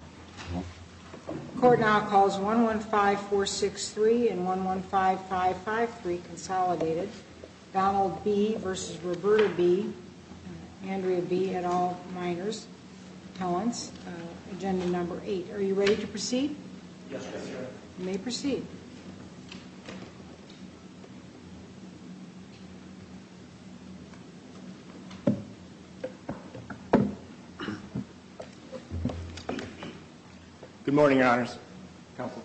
The court now calls 115463 and 115553 consolidated. Donald B. v. Roberta B. Andrea B. and all minors, talents. Agenda number 8. Are you ready to proceed? Yes, ma'am. You may proceed. Good morning, Your Honors. Counsel.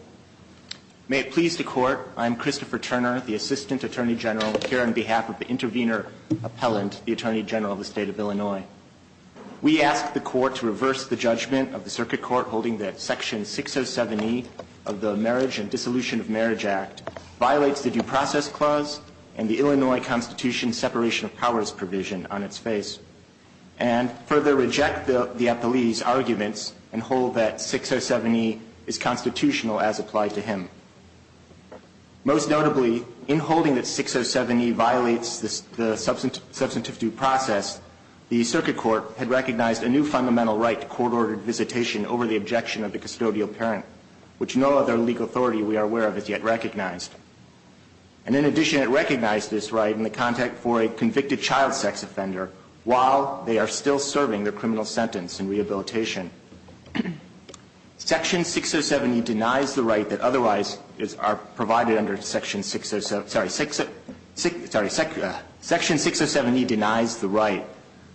May it please the Court, I am Christopher Turner, the Assistant Attorney General, here on behalf of the Intervenor Appellant, the Attorney General of the State of Illinois. We ask the Court to reverse the judgment of the Circuit Court holding that Section 607E of the Marriage and Dissolution of Marriage Act violates the Due Process Clause and the Illinois Constitution's separation of powers provision on its face, and further reject the appellee's arguments and hold that 607E is constitutional as applied to him. Most notably, in holding that 607E violates the substantive due process, the Circuit Court had recognized a new fundamental right to court-ordered visitation over the objection of the custodial parent, which no other legal authority we are aware of has yet recognized. And in addition, it recognized this right in the context for a convicted child sex offender while they are still serving their criminal sentence in rehabilitation. Section 607E denies the right that otherwise are provided under Section 607, sorry, Section 607E denies the right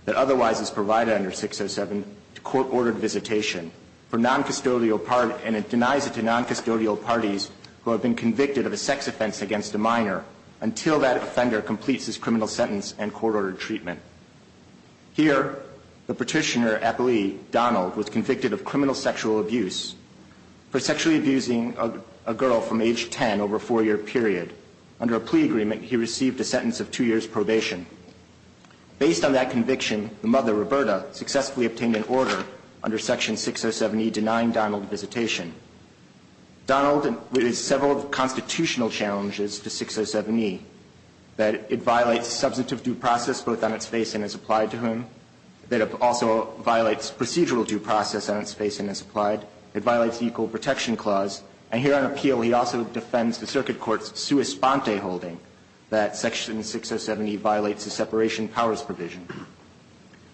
that otherwise is provided under 607 to court-ordered visitation for noncustodial and it denies it to noncustodial parties who have been convicted of a sex offense against a minor until that offender completes his criminal sentence and court-ordered treatment. Here, the petitioner appellee, Donald, was convicted of criminal sexual abuse for sexually abusing a girl from age 10 over a four-year period. Under a plea agreement, he received a sentence of two years' probation. Based on that conviction, the mother, Roberta, successfully obtained an order under Section 607E denying Donald visitation. Donald is several constitutional challenges to 607E that it violates substantive due process both on its face and as applied to him. It also violates procedural due process on its face and as applied. It violates the Equal Protection Clause. And here on appeal, he also defends the circuit court's sua sponte holding that Section 607E violates the separation powers provision.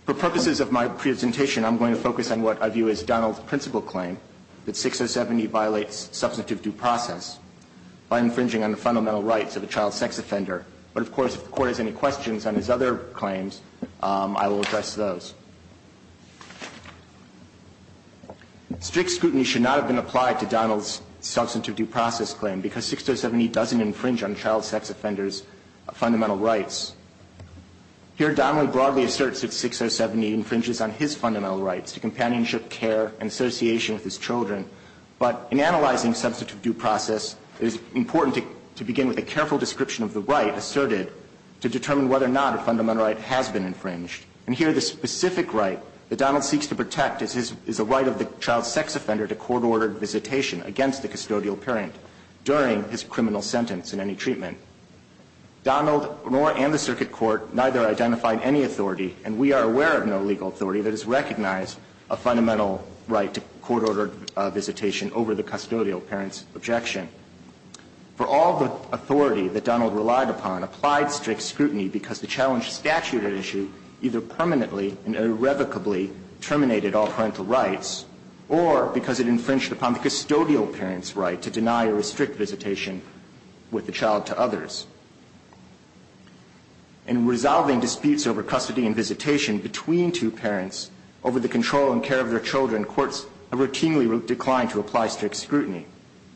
For purposes of my presentation, I'm going to focus on what I view as Donald's principal claim, that 607E violates substantive due process by infringing on the fundamental rights of a child sex offender. But, of course, if the Court has any questions on his other claims, I will address those. Strict scrutiny should not have been applied to Donald's substantive due process claim because 607E doesn't infringe on child sex offenders' fundamental rights. Here, Donald broadly asserts that 607E infringes on his fundamental rights to companionship, care, and association with his children. But in analyzing substantive due process, it is important to begin with a careful description of the right asserted to determine whether or not a fundamental right has been infringed. And here, the specific right that Donald seeks to protect is a right of the child sex offender to court-ordered visitation against the custodial parent during his criminal sentence in any treatment. Donald nor and the Circuit Court neither identified any authority, and we are aware of no legal authority, that has recognized a fundamental right to court-ordered visitation over the custodial parent's objection. For all the authority that Donald relied upon, applied strict scrutiny because the challenge statute at issue either permanently and irrevocably terminated all parental rights or because it infringed upon the custodial parent's right to deny or restrict visitation with the child to others. In resolving disputes over custody and visitation between two parents over the control and care of their children, courts have routinely declined to apply strict scrutiny.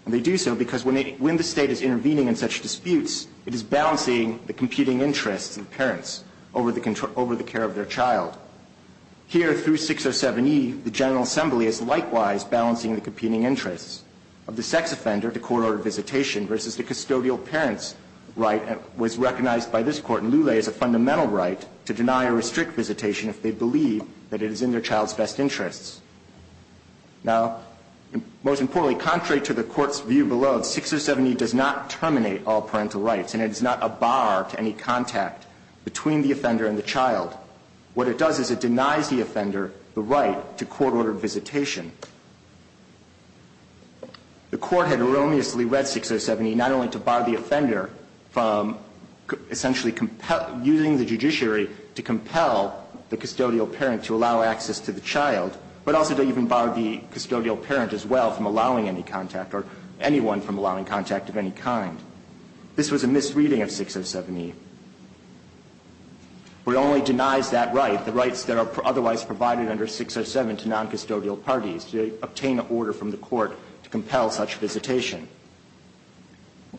And they do so because when the State is intervening in such disputes, it is balancing the competing interests of the parents over the care of their child. Here, through 607E, the General Assembly is likewise balancing the competing interests of the sex offender to court-ordered visitation versus the custodial parent's right that was recognized by this Court in Lulay as a fundamental right to deny or restrict visitation if they believe that it is in their child's best interests. Now, most importantly, contrary to the Court's view below, 607E does not terminate all parental rights, and it is not a bar to any contact between the offender and the child. What it does is it denies the offender the right to court-ordered visitation. The Court had erroneously read 607E not only to bar the offender from essentially using the judiciary to compel the custodial parent to allow access to the child, but also to even bar the custodial parent as well from allowing any contact or anyone from allowing contact of any kind. This was a misreading of 607E. But it only denies that right, the rights that are otherwise provided under 607 to noncustodial parties, to obtain an order from the Court to compel such visitation.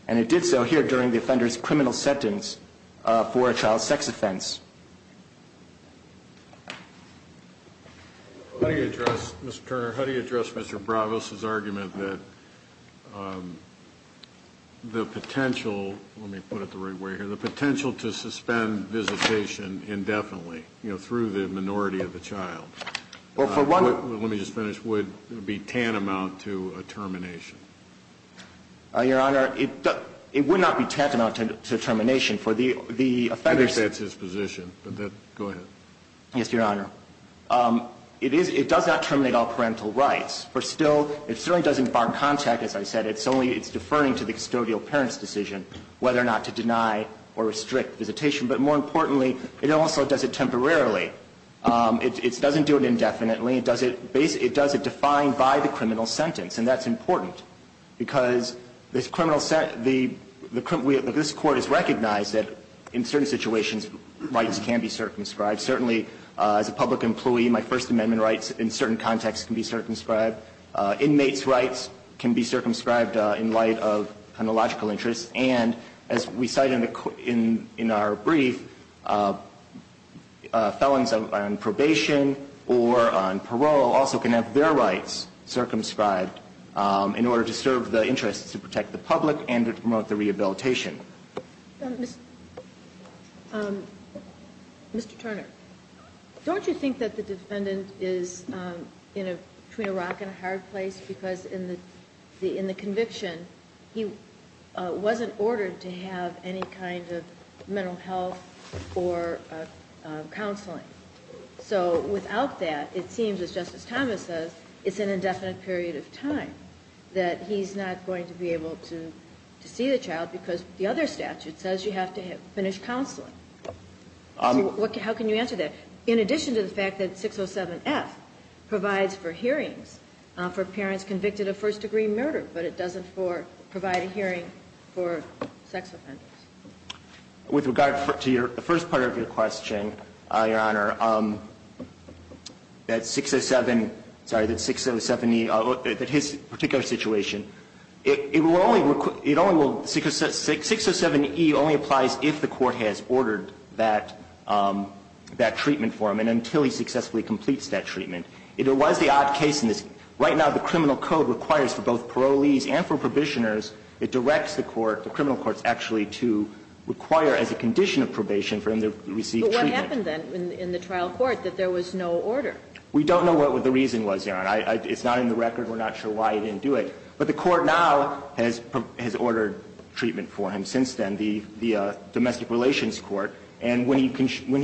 And it did so here during the offender's criminal sentence for a child sex offense. How do you address, Mr. Turner, how do you address Mr. Bravos' argument that the potential to suspend visitation indefinitely, you know, through the minority of the child, let me just finish, would be tantamount to a termination? Your Honor, it would not be tantamount to termination. I think that's his position, but go ahead. Yes, Your Honor. It does not terminate all parental rights. For still, it certainly doesn't bar contact, as I said. It's only, it's deferring to the custodial parent's decision whether or not to deny or restrict visitation. But more importantly, it also does it temporarily. It doesn't do it indefinitely. It does it defined by the criminal sentence, and that's important. Because this court has recognized that in certain situations, rights can be circumscribed. Certainly, as a public employee, my First Amendment rights in certain contexts can be circumscribed. Inmates' rights can be circumscribed in light of chronological interests. And as we cite in our brief, felons on probation or on parole also can have their rights circumscribed in order to serve the interest to protect the public and to promote the rehabilitation. Mr. Turner, don't you think that the defendant is between a rock and a hard place? Because in the conviction, he wasn't ordered to have any kind of mental health or counseling. So without that, it seems, as Justice Thomas says, it's an indefinite period of time that he's not going to be able to see the child because the other statute says you have to finish counseling. How can you answer that? In addition to the fact that 607F provides for hearings for parents convicted of first-degree murder, but it doesn't provide a hearing for sex offenders. With regard to the first part of your question, Your Honor, that 607, sorry, that 607E that his particular situation, it will only, it only will, 607E only applies if the court has ordered that, that treatment for him and until he successfully completes that treatment. It was the odd case in this. Right now, the criminal code requires for both parolees and for Provisioners it directs the court, the criminal courts actually, to require as a condition of probation for him to receive treatment. But what happened then in the trial court that there was no order? We don't know what the reason was, Your Honor. It's not in the record. We're not sure why he didn't do it. But the court now has ordered treatment for him since then, the Domestic Relations Court. And when he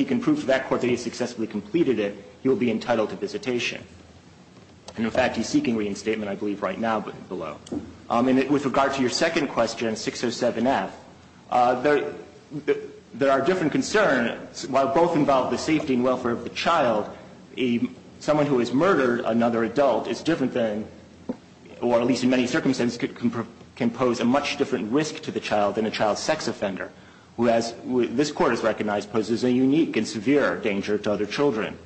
can prove to that court that he successfully completed it, he will be entitled to visitation. And, in fact, he's seeking reinstatement, I believe, right now below. With regard to your second question, 607F, there are different concerns. While both involve the safety and welfare of the child, someone who has murdered another adult is different than, or at least in many circumstances can pose a much different risk to the child than a child sex offender, who, as this Court has recognized, poses a unique and severe danger to other children.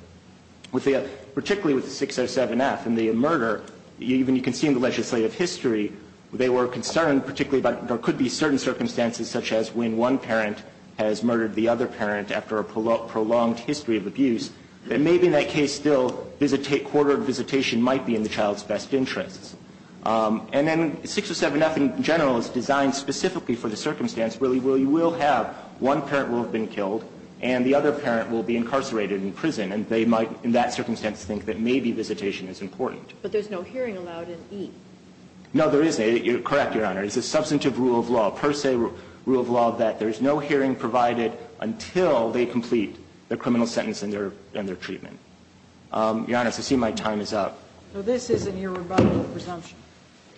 Particularly with 607F and the murder, even you can see in the legislative history, they were concerned particularly about there could be certain circumstances such as when one parent has murdered the other parent after a prolonged history of abuse, that maybe in that case still visitation, quarter of visitation might be in the child's best interests. And then 607F in general is designed specifically for the circumstance where you will have one parent will have been killed and the other parent will be incarcerated in prison. And they might, in that circumstance, think that maybe visitation is important. But there's no hearing allowed in E. No, there isn't. You're correct, Your Honor. It's a substantive rule of law, a per se rule of law, that there's no hearing provided until they complete their criminal sentence and their treatment. Your Honor, as I see my time is up. So this is an irrebuttable presumption.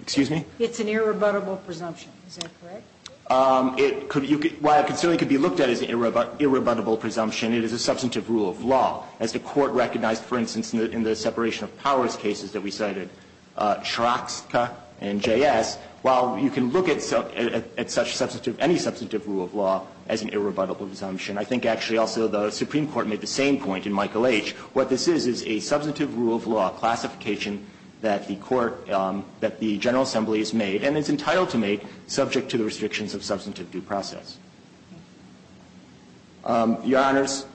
Excuse me? It's an irrebuttable presumption. Is that correct? It could be looked at as an irrebuttable presumption. It is a substantive rule of law. As the Court recognized, for instance, in the separation of powers cases that we cited, Shirokska and J.S., while you can look at such substantive, any substantive rule of law as an irrebuttable presumption, I think actually also the Supreme Court made the same point in Michael H. What this is, is a substantive rule of law, a classification that the Court, that the General Assembly has made and is entitled to make subject to the restrictions of substantive due process. Your Honors,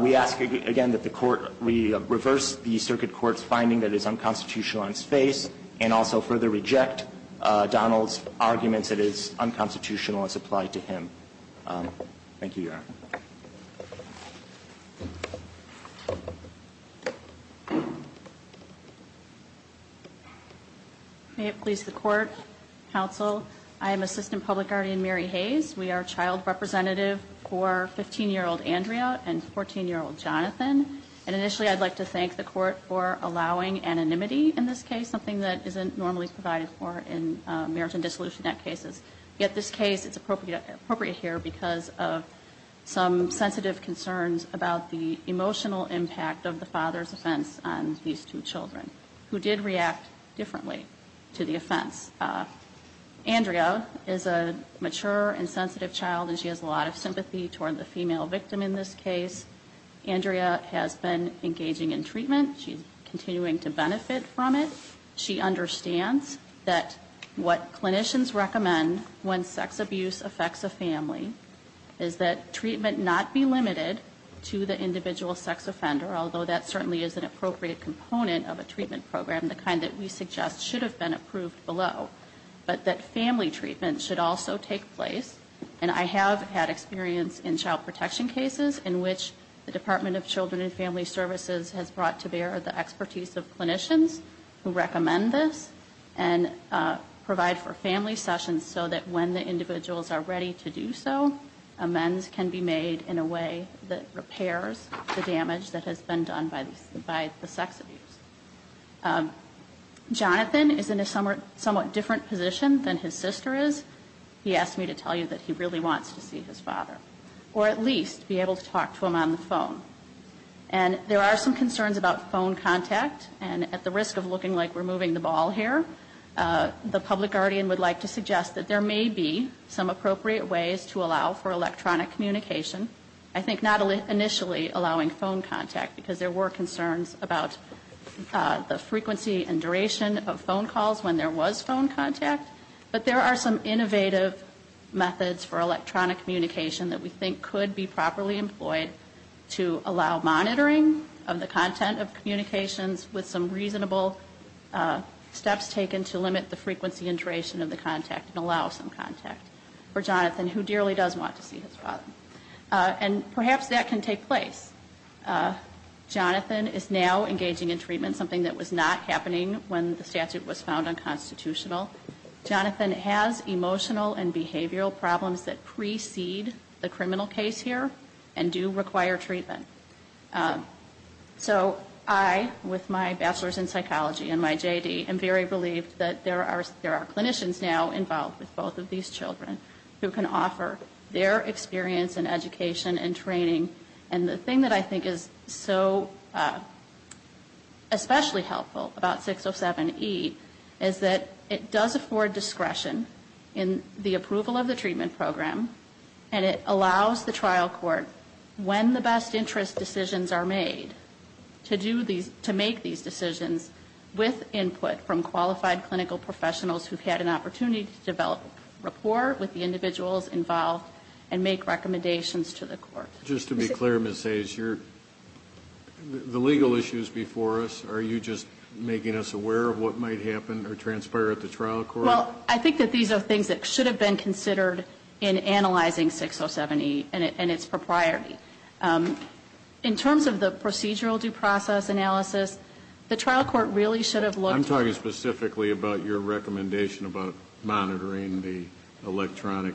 we ask again that the Court reverse the Circuit Court's finding that it is unconstitutional on its face and also further reject Donald's arguments that it is unconstitutional as applied to him. Thank you, Your Honor. May it please the Court, Counsel, I am Assistant Public Guardian Mary Hayes. We are child representative for 15-year-old Andrea and 14-year-old Jonathan. And initially, I'd like to thank the Court for allowing anonymity in this case, something that isn't normally provided for in marriage and dissolution act cases. Yet this case, it's appropriate here because of some sensitive concerns about the emotional impact of the father's offense on these two children, who did react differently to the offense. Andrea is a mature and sensitive child, and she has a lot of sympathy toward the female victim in this case. Andrea has been engaging in treatment. She's continuing to benefit from it. She understands that what clinicians recommend when sex abuse affects a family is that treatment not be limited to the individual sex offender, although that certainly is an appropriate component of a treatment program, the kind that we suggest should have been approved below. But that family treatment should also take place. And I have had experience in child protection cases in which the Department of Children and Family Services has brought to bear the expertise of clinicians who recommend this and provide for family sessions so that when the individuals are ready to do so, amends can be made in a way that repairs the damage that has been done by the sex abuse. Jonathan is in a somewhat different position than his sister is. He asked me to tell you that he really wants to see his father, or at least be able to talk to him on the phone. And there are some concerns about phone contact. And at the risk of looking like we're moving the ball here, the public guardian would like to suggest that there may be some appropriate ways to allow for electronic communication. I think not initially allowing phone contact, because there were concerns about the frequency and duration of phone calls when there was phone contact. But there are some innovative methods for electronic communication that we think could be properly employed to allow monitoring of the content of communications with some reasonable steps taken to limit the frequency and duration of the contact and allow some contact for Jonathan, who dearly does want to see his father. And perhaps that can take place. Jonathan is now engaging in treatment, something that was not happening when the child was born. Jonathan has emotional and behavioral problems that precede the criminal case here and do require treatment. So I, with my bachelor's in psychology and my J.D., am very relieved that there are clinicians now involved with both of these children who can offer their experience and education and training. And the thing that I think is so especially helpful about 607E is that it does afford discretion in the approval of the treatment program, and it allows the trial court, when the best interest decisions are made, to make these decisions with input from qualified clinical professionals who've had an opportunity to develop rapport with the individuals involved and make recommendations to the court. Just to be clear, Ms. Hayes, the legal issues before us, are you just making us transparent at the trial court? Well, I think that these are things that should have been considered in analyzing 607E and its propriety. In terms of the procedural due process analysis, the trial court really should have looked at the... I'm talking specifically about your recommendation about monitoring the electronic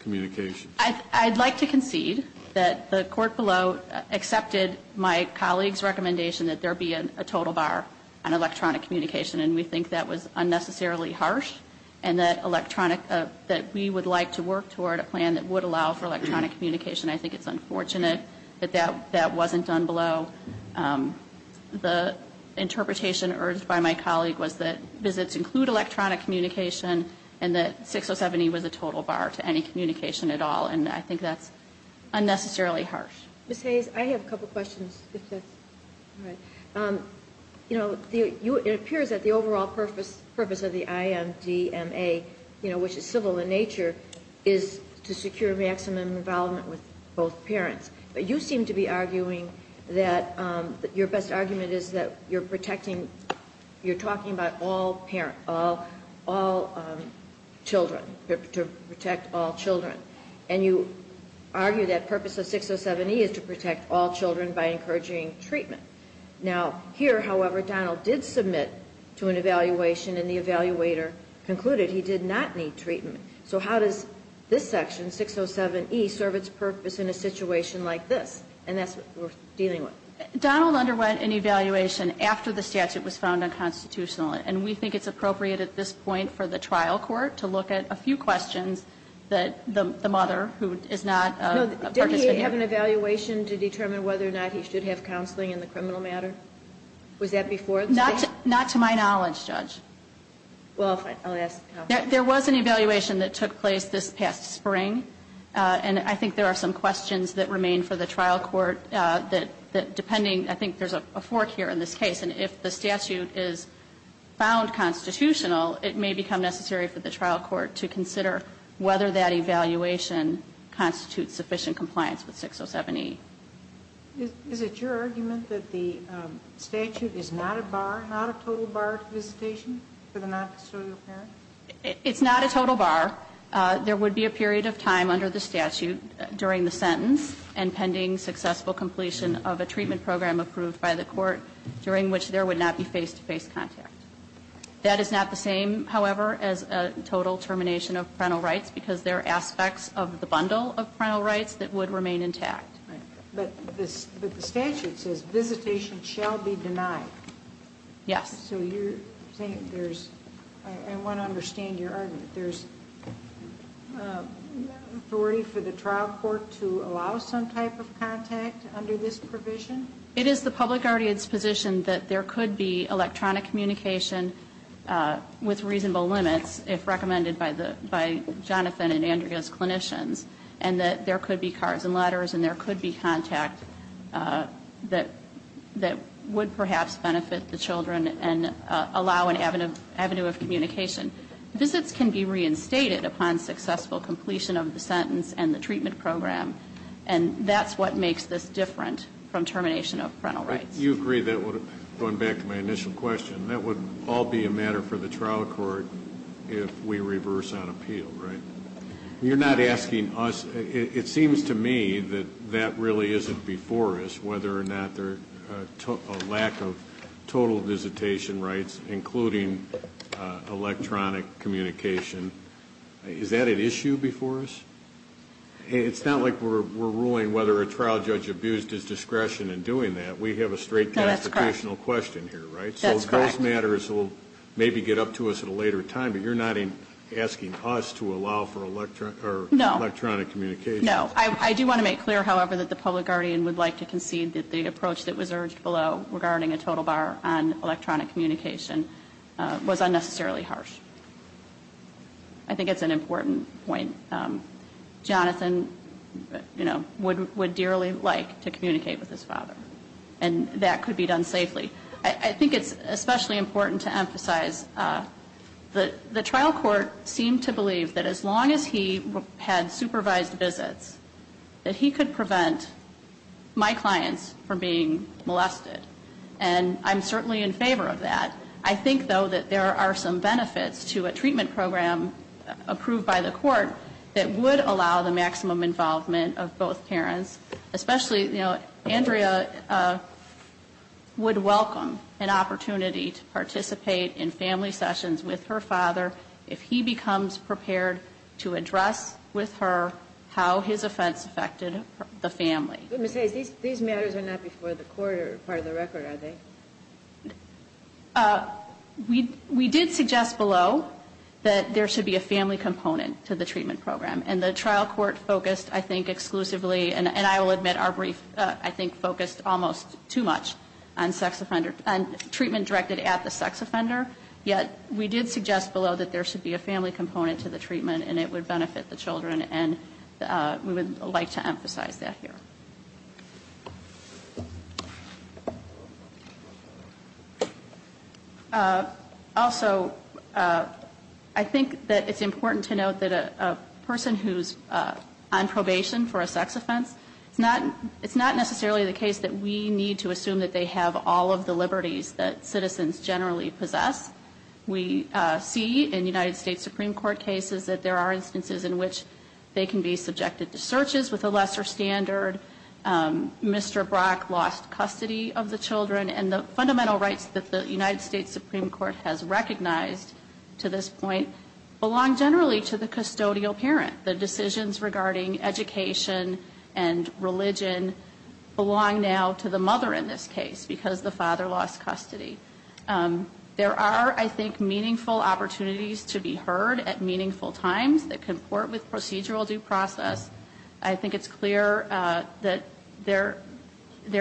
communications. I'd like to concede that the court below accepted my colleague's recommendation that there be a total bar on electronic communication, and we think that was unnecessarily harsh, and that electronic... that we would like to work toward a plan that would allow for electronic communication. I think it's unfortunate that that wasn't done below. The interpretation urged by my colleague was that visits include electronic communication, and that 607E was a total bar to any communication at all, and I think that's unnecessarily harsh. Ms. Hayes, I have a couple questions, if that's all right. You know, it appears that the overall purpose of the IMDMA, you know, which is civil in nature, is to secure maximum involvement with both parents. But you seem to be arguing that your best argument is that you're protecting... you're talking about all parents, all children, to protect all children. And you argue that purpose of 607E is to protect all children by encouraging treatment. Now, here, however, Donald did submit to an evaluation, and the evaluator concluded he did not need treatment. So how does this section, 607E, serve its purpose in a situation like this? And that's what we're dealing with. Donald underwent an evaluation after the statute was found unconstitutional, and we think it's appropriate at this point for the trial court to look at a few more questions. And I think there are some questions that remain for the trial court that, depending on, I think there's a fork here in this case, and if the statute is found constitutional, it may become necessary for the trial court to consider whether that evaluation constitutes sufficient compliance with 607E. Is it your argument that the statute is not a bar, not a total bar to visitation for the noncustodial parent? It's not a total bar. There would be a period of time under the statute during the sentence and pending successful completion of a treatment program approved by the court during which there would not be face-to-face contact. That is not the same, however, as a total termination of parental rights, because there are aspects of the bundle of parental rights that would remain intact. But the statute says visitation shall be denied. Yes. So you're saying there's, I want to understand your argument, there's authority for the trial court to allow some type of contact under this provision? It is the public guardian's position that there could be electronic communication with reasonable limits if recommended by Jonathan and Andrea's clinicians, and that there could be cards and letters and there could be contact that would perhaps benefit the children and allow an avenue of communication. Visits can be reinstated upon successful completion of the sentence and the treatment program, and that's what makes this different from termination of parental rights. You agree that would have, going back to my initial question, that would all be a matter for the trial court if we reverse on appeal, right? You're not asking us, it seems to me that that really isn't before us, whether or not a lack of total visitation rights, including electronic communication, is that an issue before us? It's not like we're ruling whether a trial judge abused his discretion in doing that. We have a straight kind of educational question here, right? That's correct. So those matters will maybe get up to us at a later time, but you're not even asking us to allow for electronic communication. No. I do want to make clear, however, that the public guardian would like to concede that the approach that was urged below regarding a total bar on electronic communication was unnecessarily harsh. I think it's an important point. Jonathan would dearly like to communicate with his father, and that could be done safely. I think it's especially important to emphasize the trial court seemed to believe that as long as he had supervised visits, that he could prevent my clients from being molested, and I'm certainly in favor of that. I think, though, that there are some benefits to a treatment program approved by the court that would allow the maximum involvement of both parents, especially Andrea would welcome an opportunity to participate in family sessions with her father if he becomes prepared to address with her how his offense affected the family. But Ms. Hayes, these matters are not before the court or part of the record, are they? We did suggest below that there should be a family component to the treatment program, and the trial court focused, I think, exclusively, and I will admit our brief, I think, focused almost too much on treatment directed at the sex offender, yet we did suggest below that there should be a family component to the treatment and it would benefit the children, and we would like to emphasize that here. Also, I think that it's important to note that a person who's on probation for a sex offense, it's not necessarily the case that we need to assume that they have all of the liberties that citizens generally possess. We see in United States Supreme Court cases that there are instances in which they can be subjected to searches with a lesser standard. Mr. Brock lost custody of the children, and the fundamental rights that the United States Supreme Court has recognized to this point belong generally to the custodial parent. The decisions regarding education and religion belong now to the mother in this case because the father lost custody. There are, I think, meaningful opportunities to be heard at meaningful times that comport with procedural due process. I think it's clear that there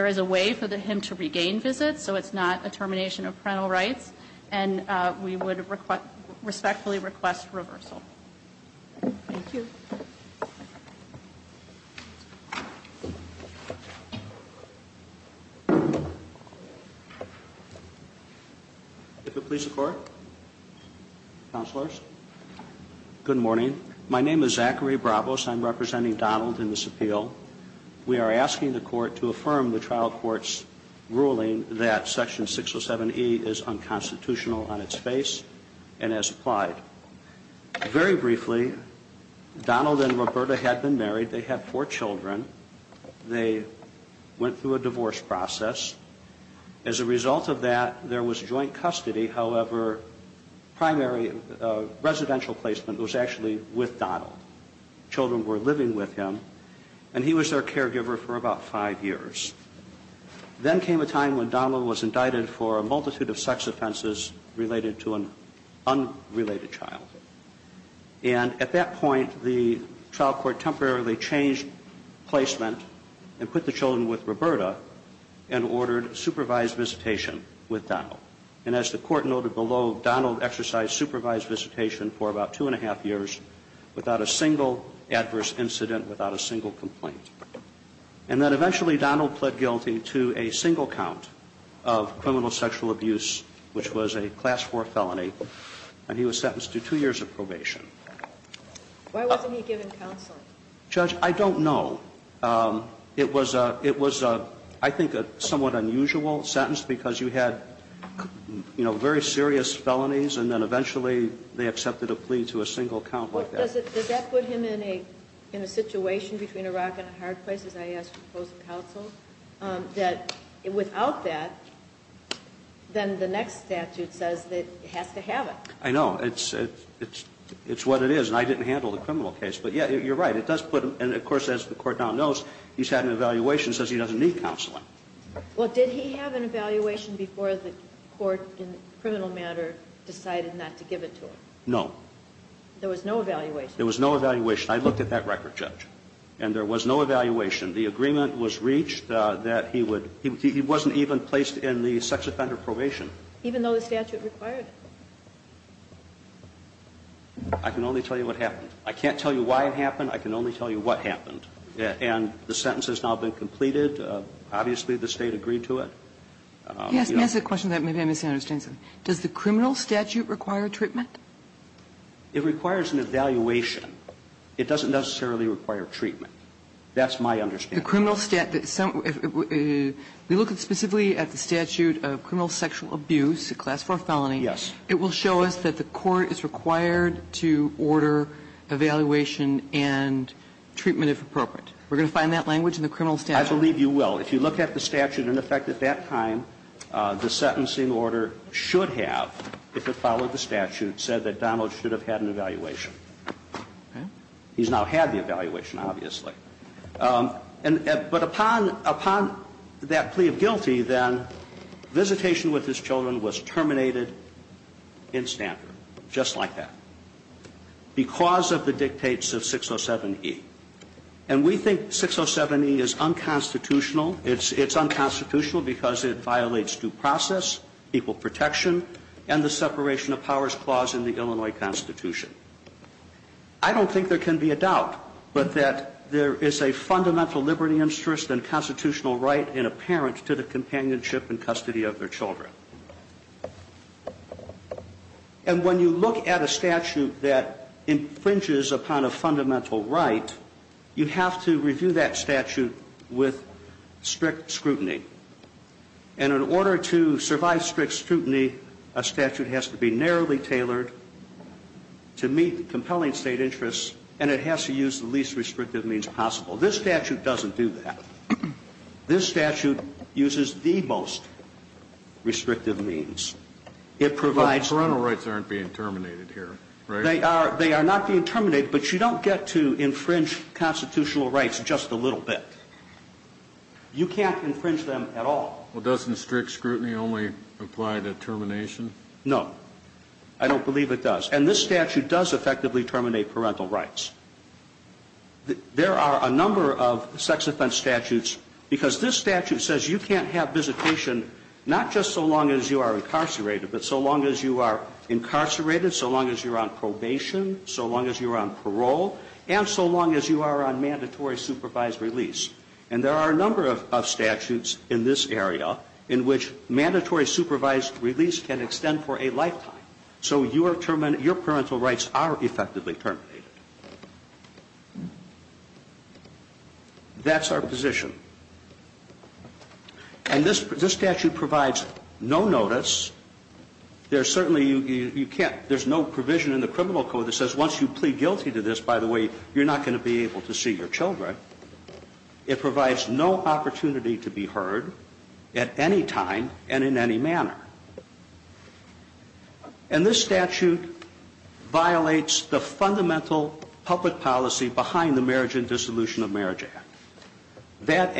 is a way for him to regain visits, so it's not a termination of parental rights, and we would respectfully request reversal. Thank you. If it please the Court. Counselors. Good morning. My name is Zachary Bravos. I'm representing Donald in this appeal. We are asking the Court to affirm the trial court's ruling that Section 607E is unconstitutional on its face and as applied. Very briefly, Donald and Roberta had been married. They had four children. They went through a divorce process. As a result of that, there was joint custody. However, primary residential placement was actually with Donald. Children were living with him, and he was their caregiver for about five years. Then came a time when Donald was indicted for a multitude of sex offenses related to an unrelated child. And at that point, the trial court temporarily changed placement and put the children with Roberta and ordered supervised visitation with Donald. And as the Court noted below, Donald exercised supervised visitation for about two and a half years without a single adverse incident, without a single complaint. And then eventually Donald pled guilty to a single count of criminal sexual abuse, which was a Class IV felony, and he was sentenced to two years of probation. Why wasn't he given counsel? Judge, I don't know. It was a – it was a, I think, a somewhat unusual sentence because you had, you know, very serious felonies, and then eventually they accepted a plea to a single count like that. Does that put him in a situation between a rock and a hard place, as I asked to propose a counsel, that without that, then the next statute says that he has to have it? I know. It's what it is, and I didn't handle the criminal case. But, yeah, you're right. It does put him – and, of course, as the Court now knows, he's had an evaluation that says he doesn't need counseling. Well, did he have an evaluation before the Court in criminal matter decided not to give it to him? No. There was no evaluation? There was no evaluation. I looked at that record, Judge, and there was no evaluation. The agreement was reached that he would – he wasn't even placed in the sex offender probation. Even though the statute required it? I can only tell you what happened. I can't tell you why it happened. I can only tell you what happened. And the sentence has now been completed. Obviously, the State agreed to it. Yes. Let me ask a question that maybe I misunderstand something. Does the criminal statute require treatment? It requires an evaluation. It doesn't necessarily require treatment. That's my understanding. The criminal statute – we look specifically at the statute of criminal sexual abuse, a class 4 felony. Yes. It will show us that the Court is required to order evaluation and treatment if appropriate. We're going to find that language in the criminal statute? I believe you will. If you look at the statute in effect at that time, the sentencing order should have, if it followed the statute, said that Donald should have had an evaluation. Okay. He's now had the evaluation, obviously. But upon that plea of guilty, then, visitation with his children was terminated in Stanford, just like that, because of the dictates of 607E. And we think 607E is unconstitutional. It's unconstitutional because it violates due process, equal protection, and the separation of powers clause in the Illinois Constitution. I don't think there can be a doubt but that there is a fundamental liberty interest and constitutional right in a parent to the companionship and custody of their children. And when you look at a statute that infringes upon a fundamental right, you have to review that statute with strict scrutiny. And in order to survive strict scrutiny, a statute has to be narrowly tailored to meet compelling State interests, and it has to use the least restrictive means possible. This statute doesn't do that. This statute uses the most restrictive means. It provides... But parental rights aren't being terminated here, right? They are not being terminated, but you don't get to infringe constitutional rights just a little bit. You can't infringe them at all. Well, doesn't strict scrutiny only apply to termination? No. I don't believe it does. And this statute does effectively terminate parental rights. There are a number of sex offense statutes, because this statute says you can't have visitation not just so long as you are incarcerated, but so long as you are incarcerated, so long as you're on probation, so long as you're on parole, and so long as you are on mandatory supervised release. And there are a number of statutes in this area in which mandatory supervised release can extend for a lifetime. So your parental rights are effectively terminated. That's our position. And this statute provides no notice. There's certainly, you can't, there's no provision in the criminal code that says once you plead guilty to this, by the way, you're not going to be able to see your children. It provides no opportunity to be heard at any time and in any manner. And this statute violates the fundamental public policy behind the Marriage and Dissolution of Marriage Act. That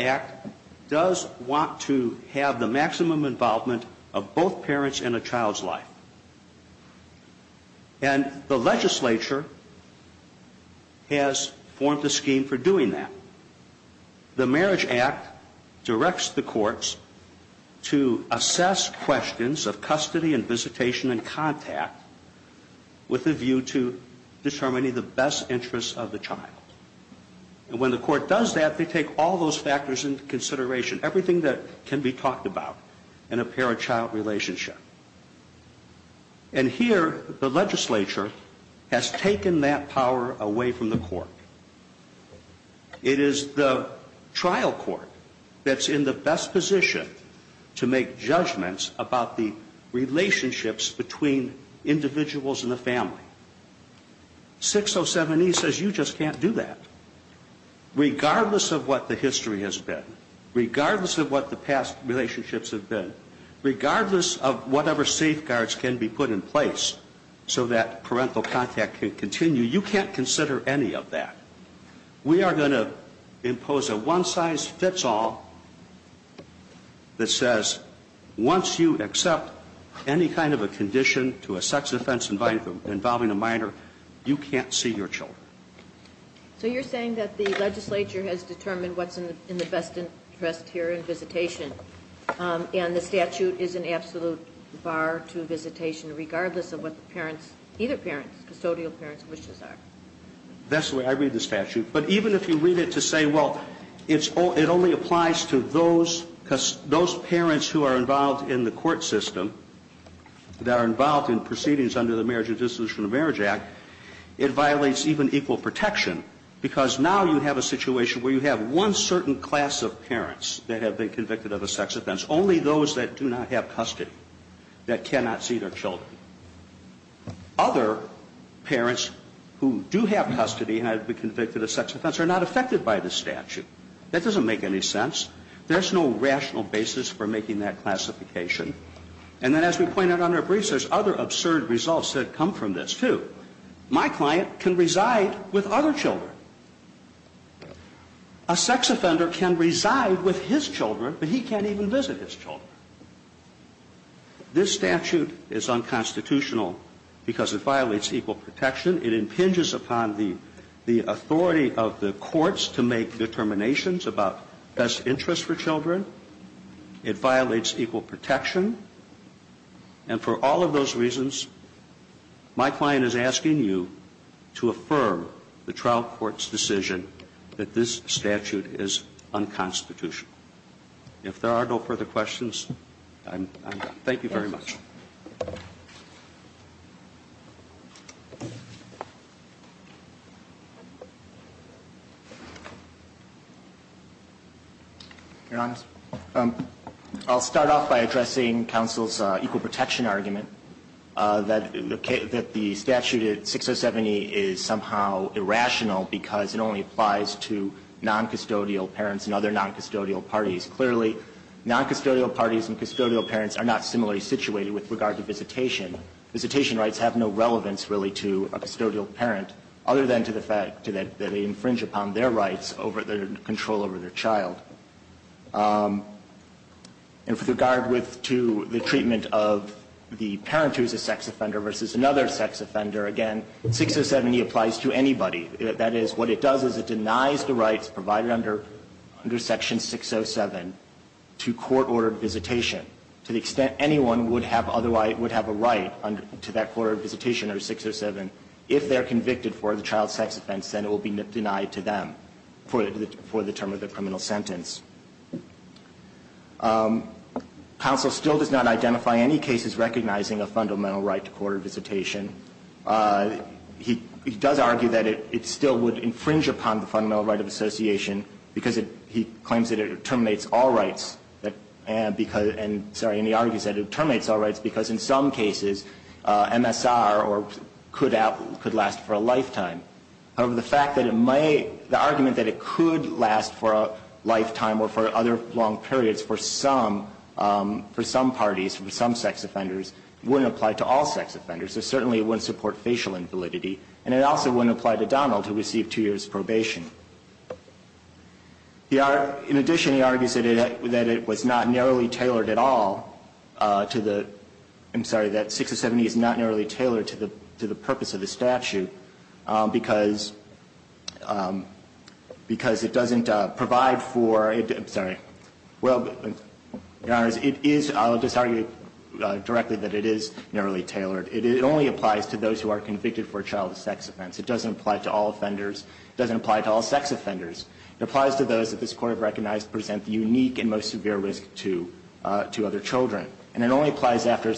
act does want to have the maximum involvement of both parents in a child's life. And the legislature has formed a scheme for doing that. The Marriage Act directs the courts to assess questions of custody and visitation and contact with a view to determining the best interests of the child. And when the court does that, they take all those factors into consideration, everything that can be talked about in a parachild relationship. And here, the legislature has taken that power away from the court. It is the trial court that's in the best position to make judgments about the relationships between individuals and the family. 607E says you just can't do that. Regardless of what the history has been, regardless of what the past relationships have been, regardless of whatever safeguards can be put in place so that parental contact can continue, you can't consider any of that. We are going to impose a one-size-fits-all that says once you accept any kind of a condition to a sex offense involving a minor, you can't see your children. So you're saying that the legislature has determined what's in the best interest here in visitation, and the statute is an absolute bar to visitation regardless of what the parents, either parents, custodial parents' wishes are. That's the way I read the statute. But even if you read it to say, well, it only applies to those parents who are involved in the court system, that are involved in proceedings under the Marriage and Dissolution of Marriage Act, it violates even equal protection because now you have a situation where you have one certain class of parents that have been convicted of a sex offense, only those that do not have custody, that cannot see their children. Other parents who do have custody and have been convicted of sex offense are not affected by the statute. That doesn't make any sense. There's no rational basis for making that classification. And then as we pointed out in our briefs, there's other absurd results that come from this, too. My client can reside with other children. A sex offender can reside with his children, but he can't even visit his children. This statute is unconstitutional because it violates equal protection. It impinges upon the authority of the courts to make determinations about best interests for children. It violates equal protection. And for all of those reasons, my client is asking you to affirm the trial court's decision that this statute is unconstitutional. If there are no further questions, I'm done. Thank you very much. Your Honor, I'll start off by addressing counsel's equal protection argument that the statute 6070 is somehow irrational because it only applies to noncustodial parents and other noncustodial parties. Clearly, noncustodial parties and custodial parents are not similarly situated with regard to visitation. Visitation rights have no relevance, really, to a custodial parent other than to the fact that they infringe upon their rights over their control over their child. And with regard with to the treatment of the parent who is a sex offender versus another sex offender, again, 6070 applies to anybody. That is, what it does is it denies the rights provided under Section 607 to court-ordered visitation to the extent anyone would have otherwise would have a right to that court-ordered visitation under 607 if they're convicted for the child sex offense, then it will be denied to them for the term of the criminal sentence. Counsel still does not identify any cases recognizing a fundamental right to court-ordered visitation. He does argue that it still would infringe upon the fundamental right of association because he claims that it terminates all rights and because he argues that it terminates all rights because in some cases MSR could last for a lifetime. However, the argument that it could last for a lifetime or for other long periods for some parties, for some sex offenders, wouldn't apply to all sex offenders. It certainly wouldn't support facial invalidity, and it also wouldn't apply to Donald who received two years' probation. In addition, he argues that it was not narrowly tailored at all to the – I'm sorry, that 6070 is not narrowly tailored to the purpose of the statute because it doesn't provide for – I'm sorry. Well, it is – I'll just argue directly that it is narrowly tailored. It only applies to those who are convicted for a child's sex offense. It doesn't apply to all offenders. It doesn't apply to all sex offenders. It applies to those that this Court has recognized present the unique and most severe risk to other children. And it only applies after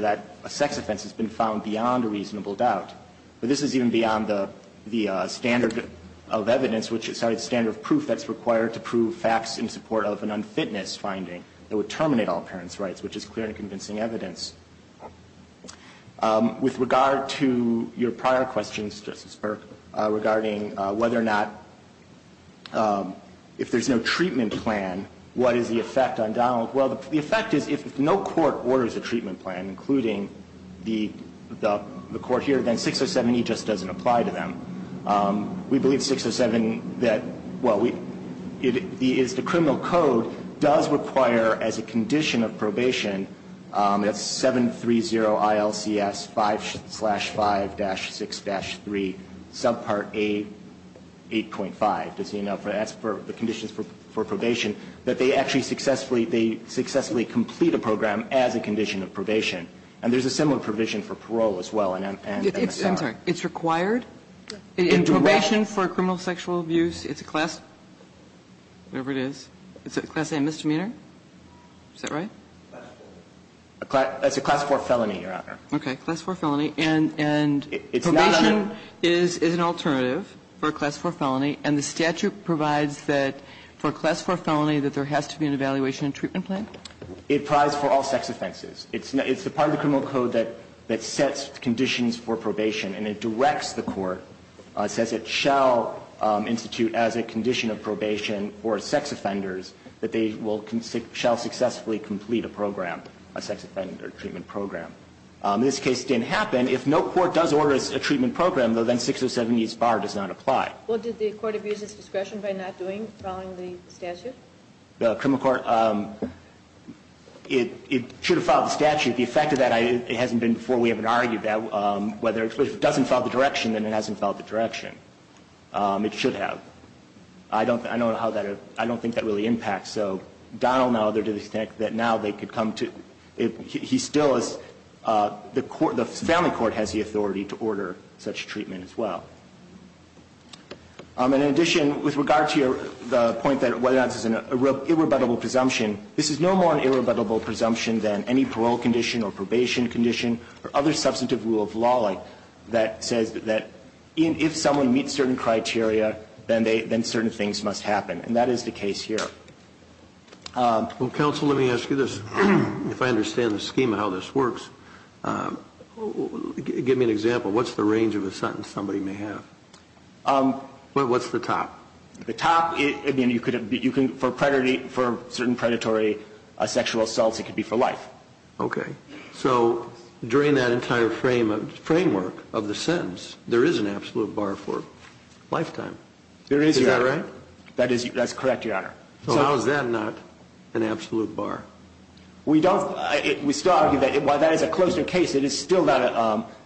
that sex offense has been found beyond a reasonable doubt. But this is even beyond the standard of evidence which – sorry, the standard of proof that's required to prove facts in support of an unfitness finding that would terminate all parents' rights, which is clear and convincing evidence. With regard to your prior questions, Justice Burke, regarding whether or not – if there's no treatment plan, what is the effect on Donald? Well, the effect is if no court orders a treatment plan, including the Court here, then 6070 just doesn't apply to them. We believe 607 that – well, we – is the criminal code does require as a condition of probation, that's 730 ILCS 5 slash 5 dash 6 dash 3, subpart A8.5. Does he know? That's for the conditions for probation, that they actually successfully – they successfully complete a program as a condition of probation. And there's a similar provision for parole as well in MSR. I'm sorry. It's required? In probation for criminal sexual abuse? It's a class – whatever it is. It's a class A misdemeanor? Is that right? It's a class 4 felony, Your Honor. Okay. Class 4 felony. And probation is an alternative for a class 4 felony, and the statute provides that for a class 4 felony that there has to be an evaluation and treatment plan? It applies for all sex offenses. It's the part of the criminal code that sets conditions for probation, and it directs the Court, says it shall institute as a condition of probation for sex offenders that they will – shall successfully complete a program, a sex offender treatment program. In this case, it didn't happen. If no court does order a treatment program, though, then 607E's bar does not apply. Well, did the Court abuse its discretion by not doing – following the statute? The criminal court – it should have followed the statute. The effect of that, it hasn't been before. We haven't argued that. Whether – if it doesn't follow the direction, then it hasn't followed the direction. It should have. I don't – I don't know how that – I don't think that really impacts. So, Donald and others think that now they could come to – he still is – the court – the family court has the authority to order such treatment as well. And in addition, with regard to the point that whether or not this is an irrebuttable presumption, this is no more an irrebuttable presumption than any parole condition or probation condition or other substantive rule of law that says that if someone meets certain criteria, then they – then certain things must happen. And that is the case here. Well, counsel, let me ask you this. If I understand the scheme of how this works, give me an example. What's the range of a sentence somebody may have? What's the top? The top – I mean, you could – you can – for predatory – for certain predatory sexual assaults, it could be for life. Okay. So during that entire frame of – framework of the sentence, there is an absolute bar for lifetime. There is, Your Honor. Is that right? That is – that's correct, Your Honor. So how is that not an absolute bar? We don't – we still argue that while that is a closer case, it is still not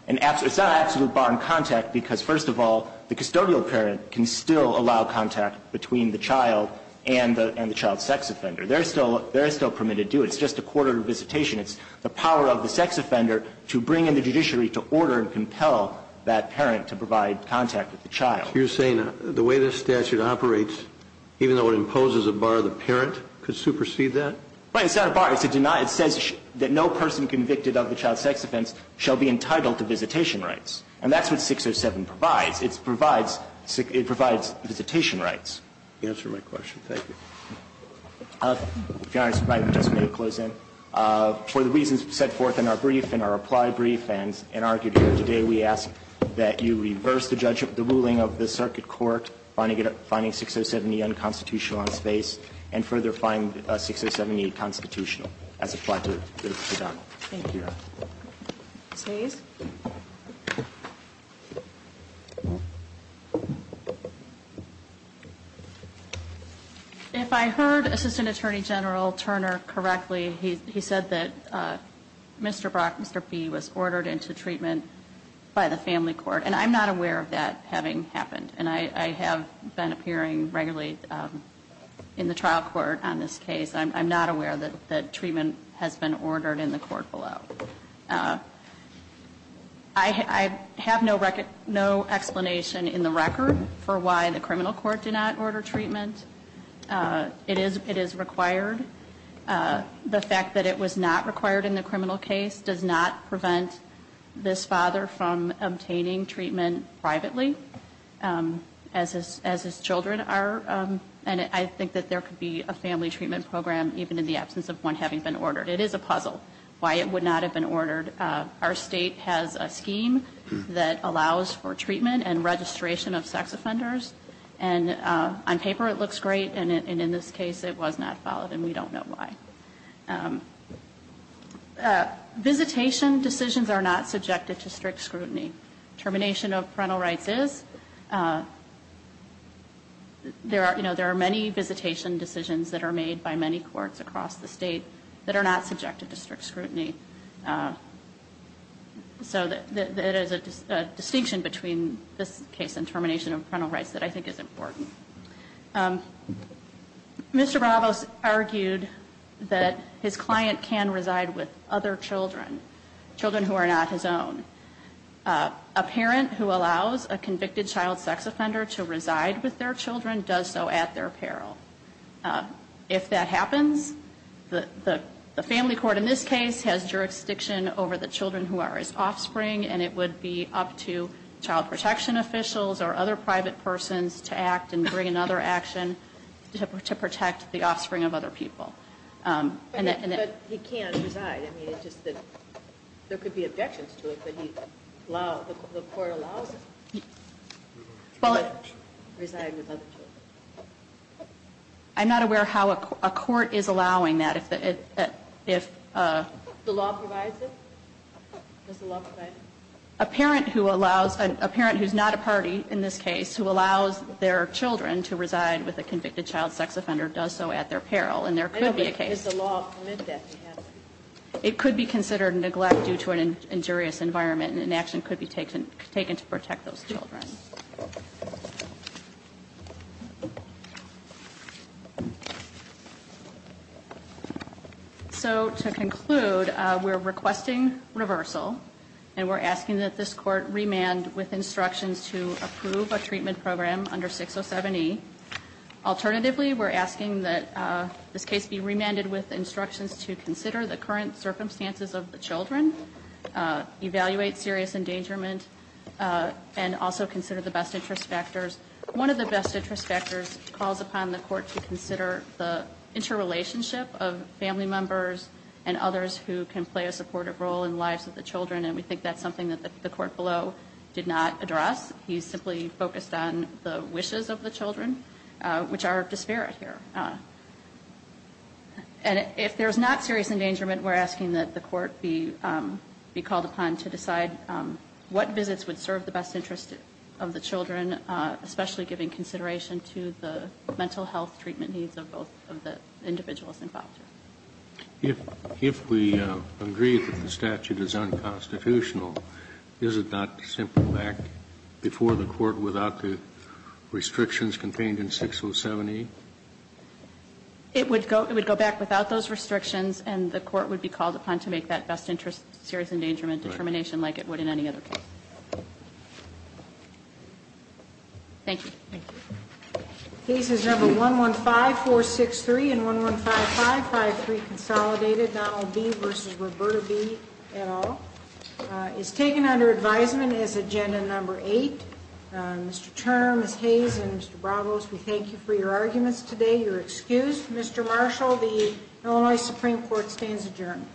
an absolute – it's not an absolute bar on contact because, first of all, the custodial parent can still allow contact between the child and the child's sex offender. They're still permitted to do it. It's just a court-ordered visitation. It's the power of the sex offender to bring in the judiciary to order and compel that parent to provide contact with the child. So you're saying the way this statute operates, even though it imposes a bar, the parent could supersede that? Right. It's not a bar. It's a deny. It says that no person convicted of the child's sex offense shall be entitled to visitation rights. And that's what 607 provides. It provides – it provides visitation rights. You answered my question. Thank you. If Your Honor, if I just may close in. For the reasons set forth in our brief and our applied brief and argued here today, we ask that you reverse the ruling of the circuit court finding 607E unconstitutional on space and further find 607E constitutional as applied to the defendant. Thank you, Your Honor. Ms. Hayes. If I heard Assistant Attorney General Turner correctly, he said that Mr. Brock, Mr. Fee was ordered into treatment by the family court. And I'm not aware of that having happened. And I have been appearing regularly in the trial court on this case. I'm not aware that treatment has been ordered in the court below. I have no explanation in the record for why the criminal court did not order treatment. It is required. The fact that it was not required in the criminal case does not prevent this father from obtaining treatment privately as his children are. And I think that there could be a family treatment program even in the absence of one having been ordered. It is a puzzle. Why it would not have been ordered. Our state has a scheme that allows for treatment and registration of sex offenders. And on paper, it looks great. And in this case, it was not followed. And we don't know why. Visitation decisions are not subjected to strict scrutiny. Termination of parental rights is. There are many visitation decisions that are made by many courts across the state that are not subjected to strict scrutiny. So it is a distinction between this case and termination of parental rights that I think is important. Mr. Bravos argued that his client can reside with other children, children who are not his own. A parent who allows a convicted child sex offender to reside with their children does so at their peril. If that happens, the family court in this case has jurisdiction over the children who are his offspring, and it would be up to child protection officials or other private persons to act and bring another action to protect the offspring of other people. But he can't reside. I mean, it's just that there could be objections to it, but the court allows it. He can't reside with other children. I'm not aware how a court is allowing that. The law provides it? Does the law provide it? A parent who's not a party in this case who allows their children to reside with a convicted child sex offender does so at their peril, and there could be a case. I know, but does the law permit that to happen? It could be considered neglect due to an injurious environment, and an action could be taken to protect those children. So to conclude, we're requesting reversal, and we're asking that this court remand with instructions to approve a treatment program under 607E. Alternatively, we're asking that this case be remanded with instructions to consider the current circumstances of the children, evaluate serious endangerment, and also consider the best interest factors. One of the best interest factors calls upon the court to consider the interrelationship of family members and others who can play a supportive role in the lives of the children, and we think that's something that the court below did not address. He simply focused on the wishes of the children, which are disparate here. And if there's not serious endangerment, we're asking that the court be called upon to decide what visits would serve the best interest of the children, especially giving consideration to the mental health treatment needs of both of the individuals involved. If we agree that the statute is unconstitutional, is it not simple to act before the court without the restrictions contained in 607E? It would go back without those restrictions, and the court would be called upon to make that best interest serious endangerment determination like it would in any other case. Thank you. Thank you. Cases number 115463 and 115553, consolidated, Donald B. v. Roberta B. et al., is taken under advisement as agenda number 8. Mr. Turner, Ms. Hayes, and Mr. Bravos, we thank you for your arguments today. You're excused. Mr. Marshall, the Illinois Supreme Court stands adjourned.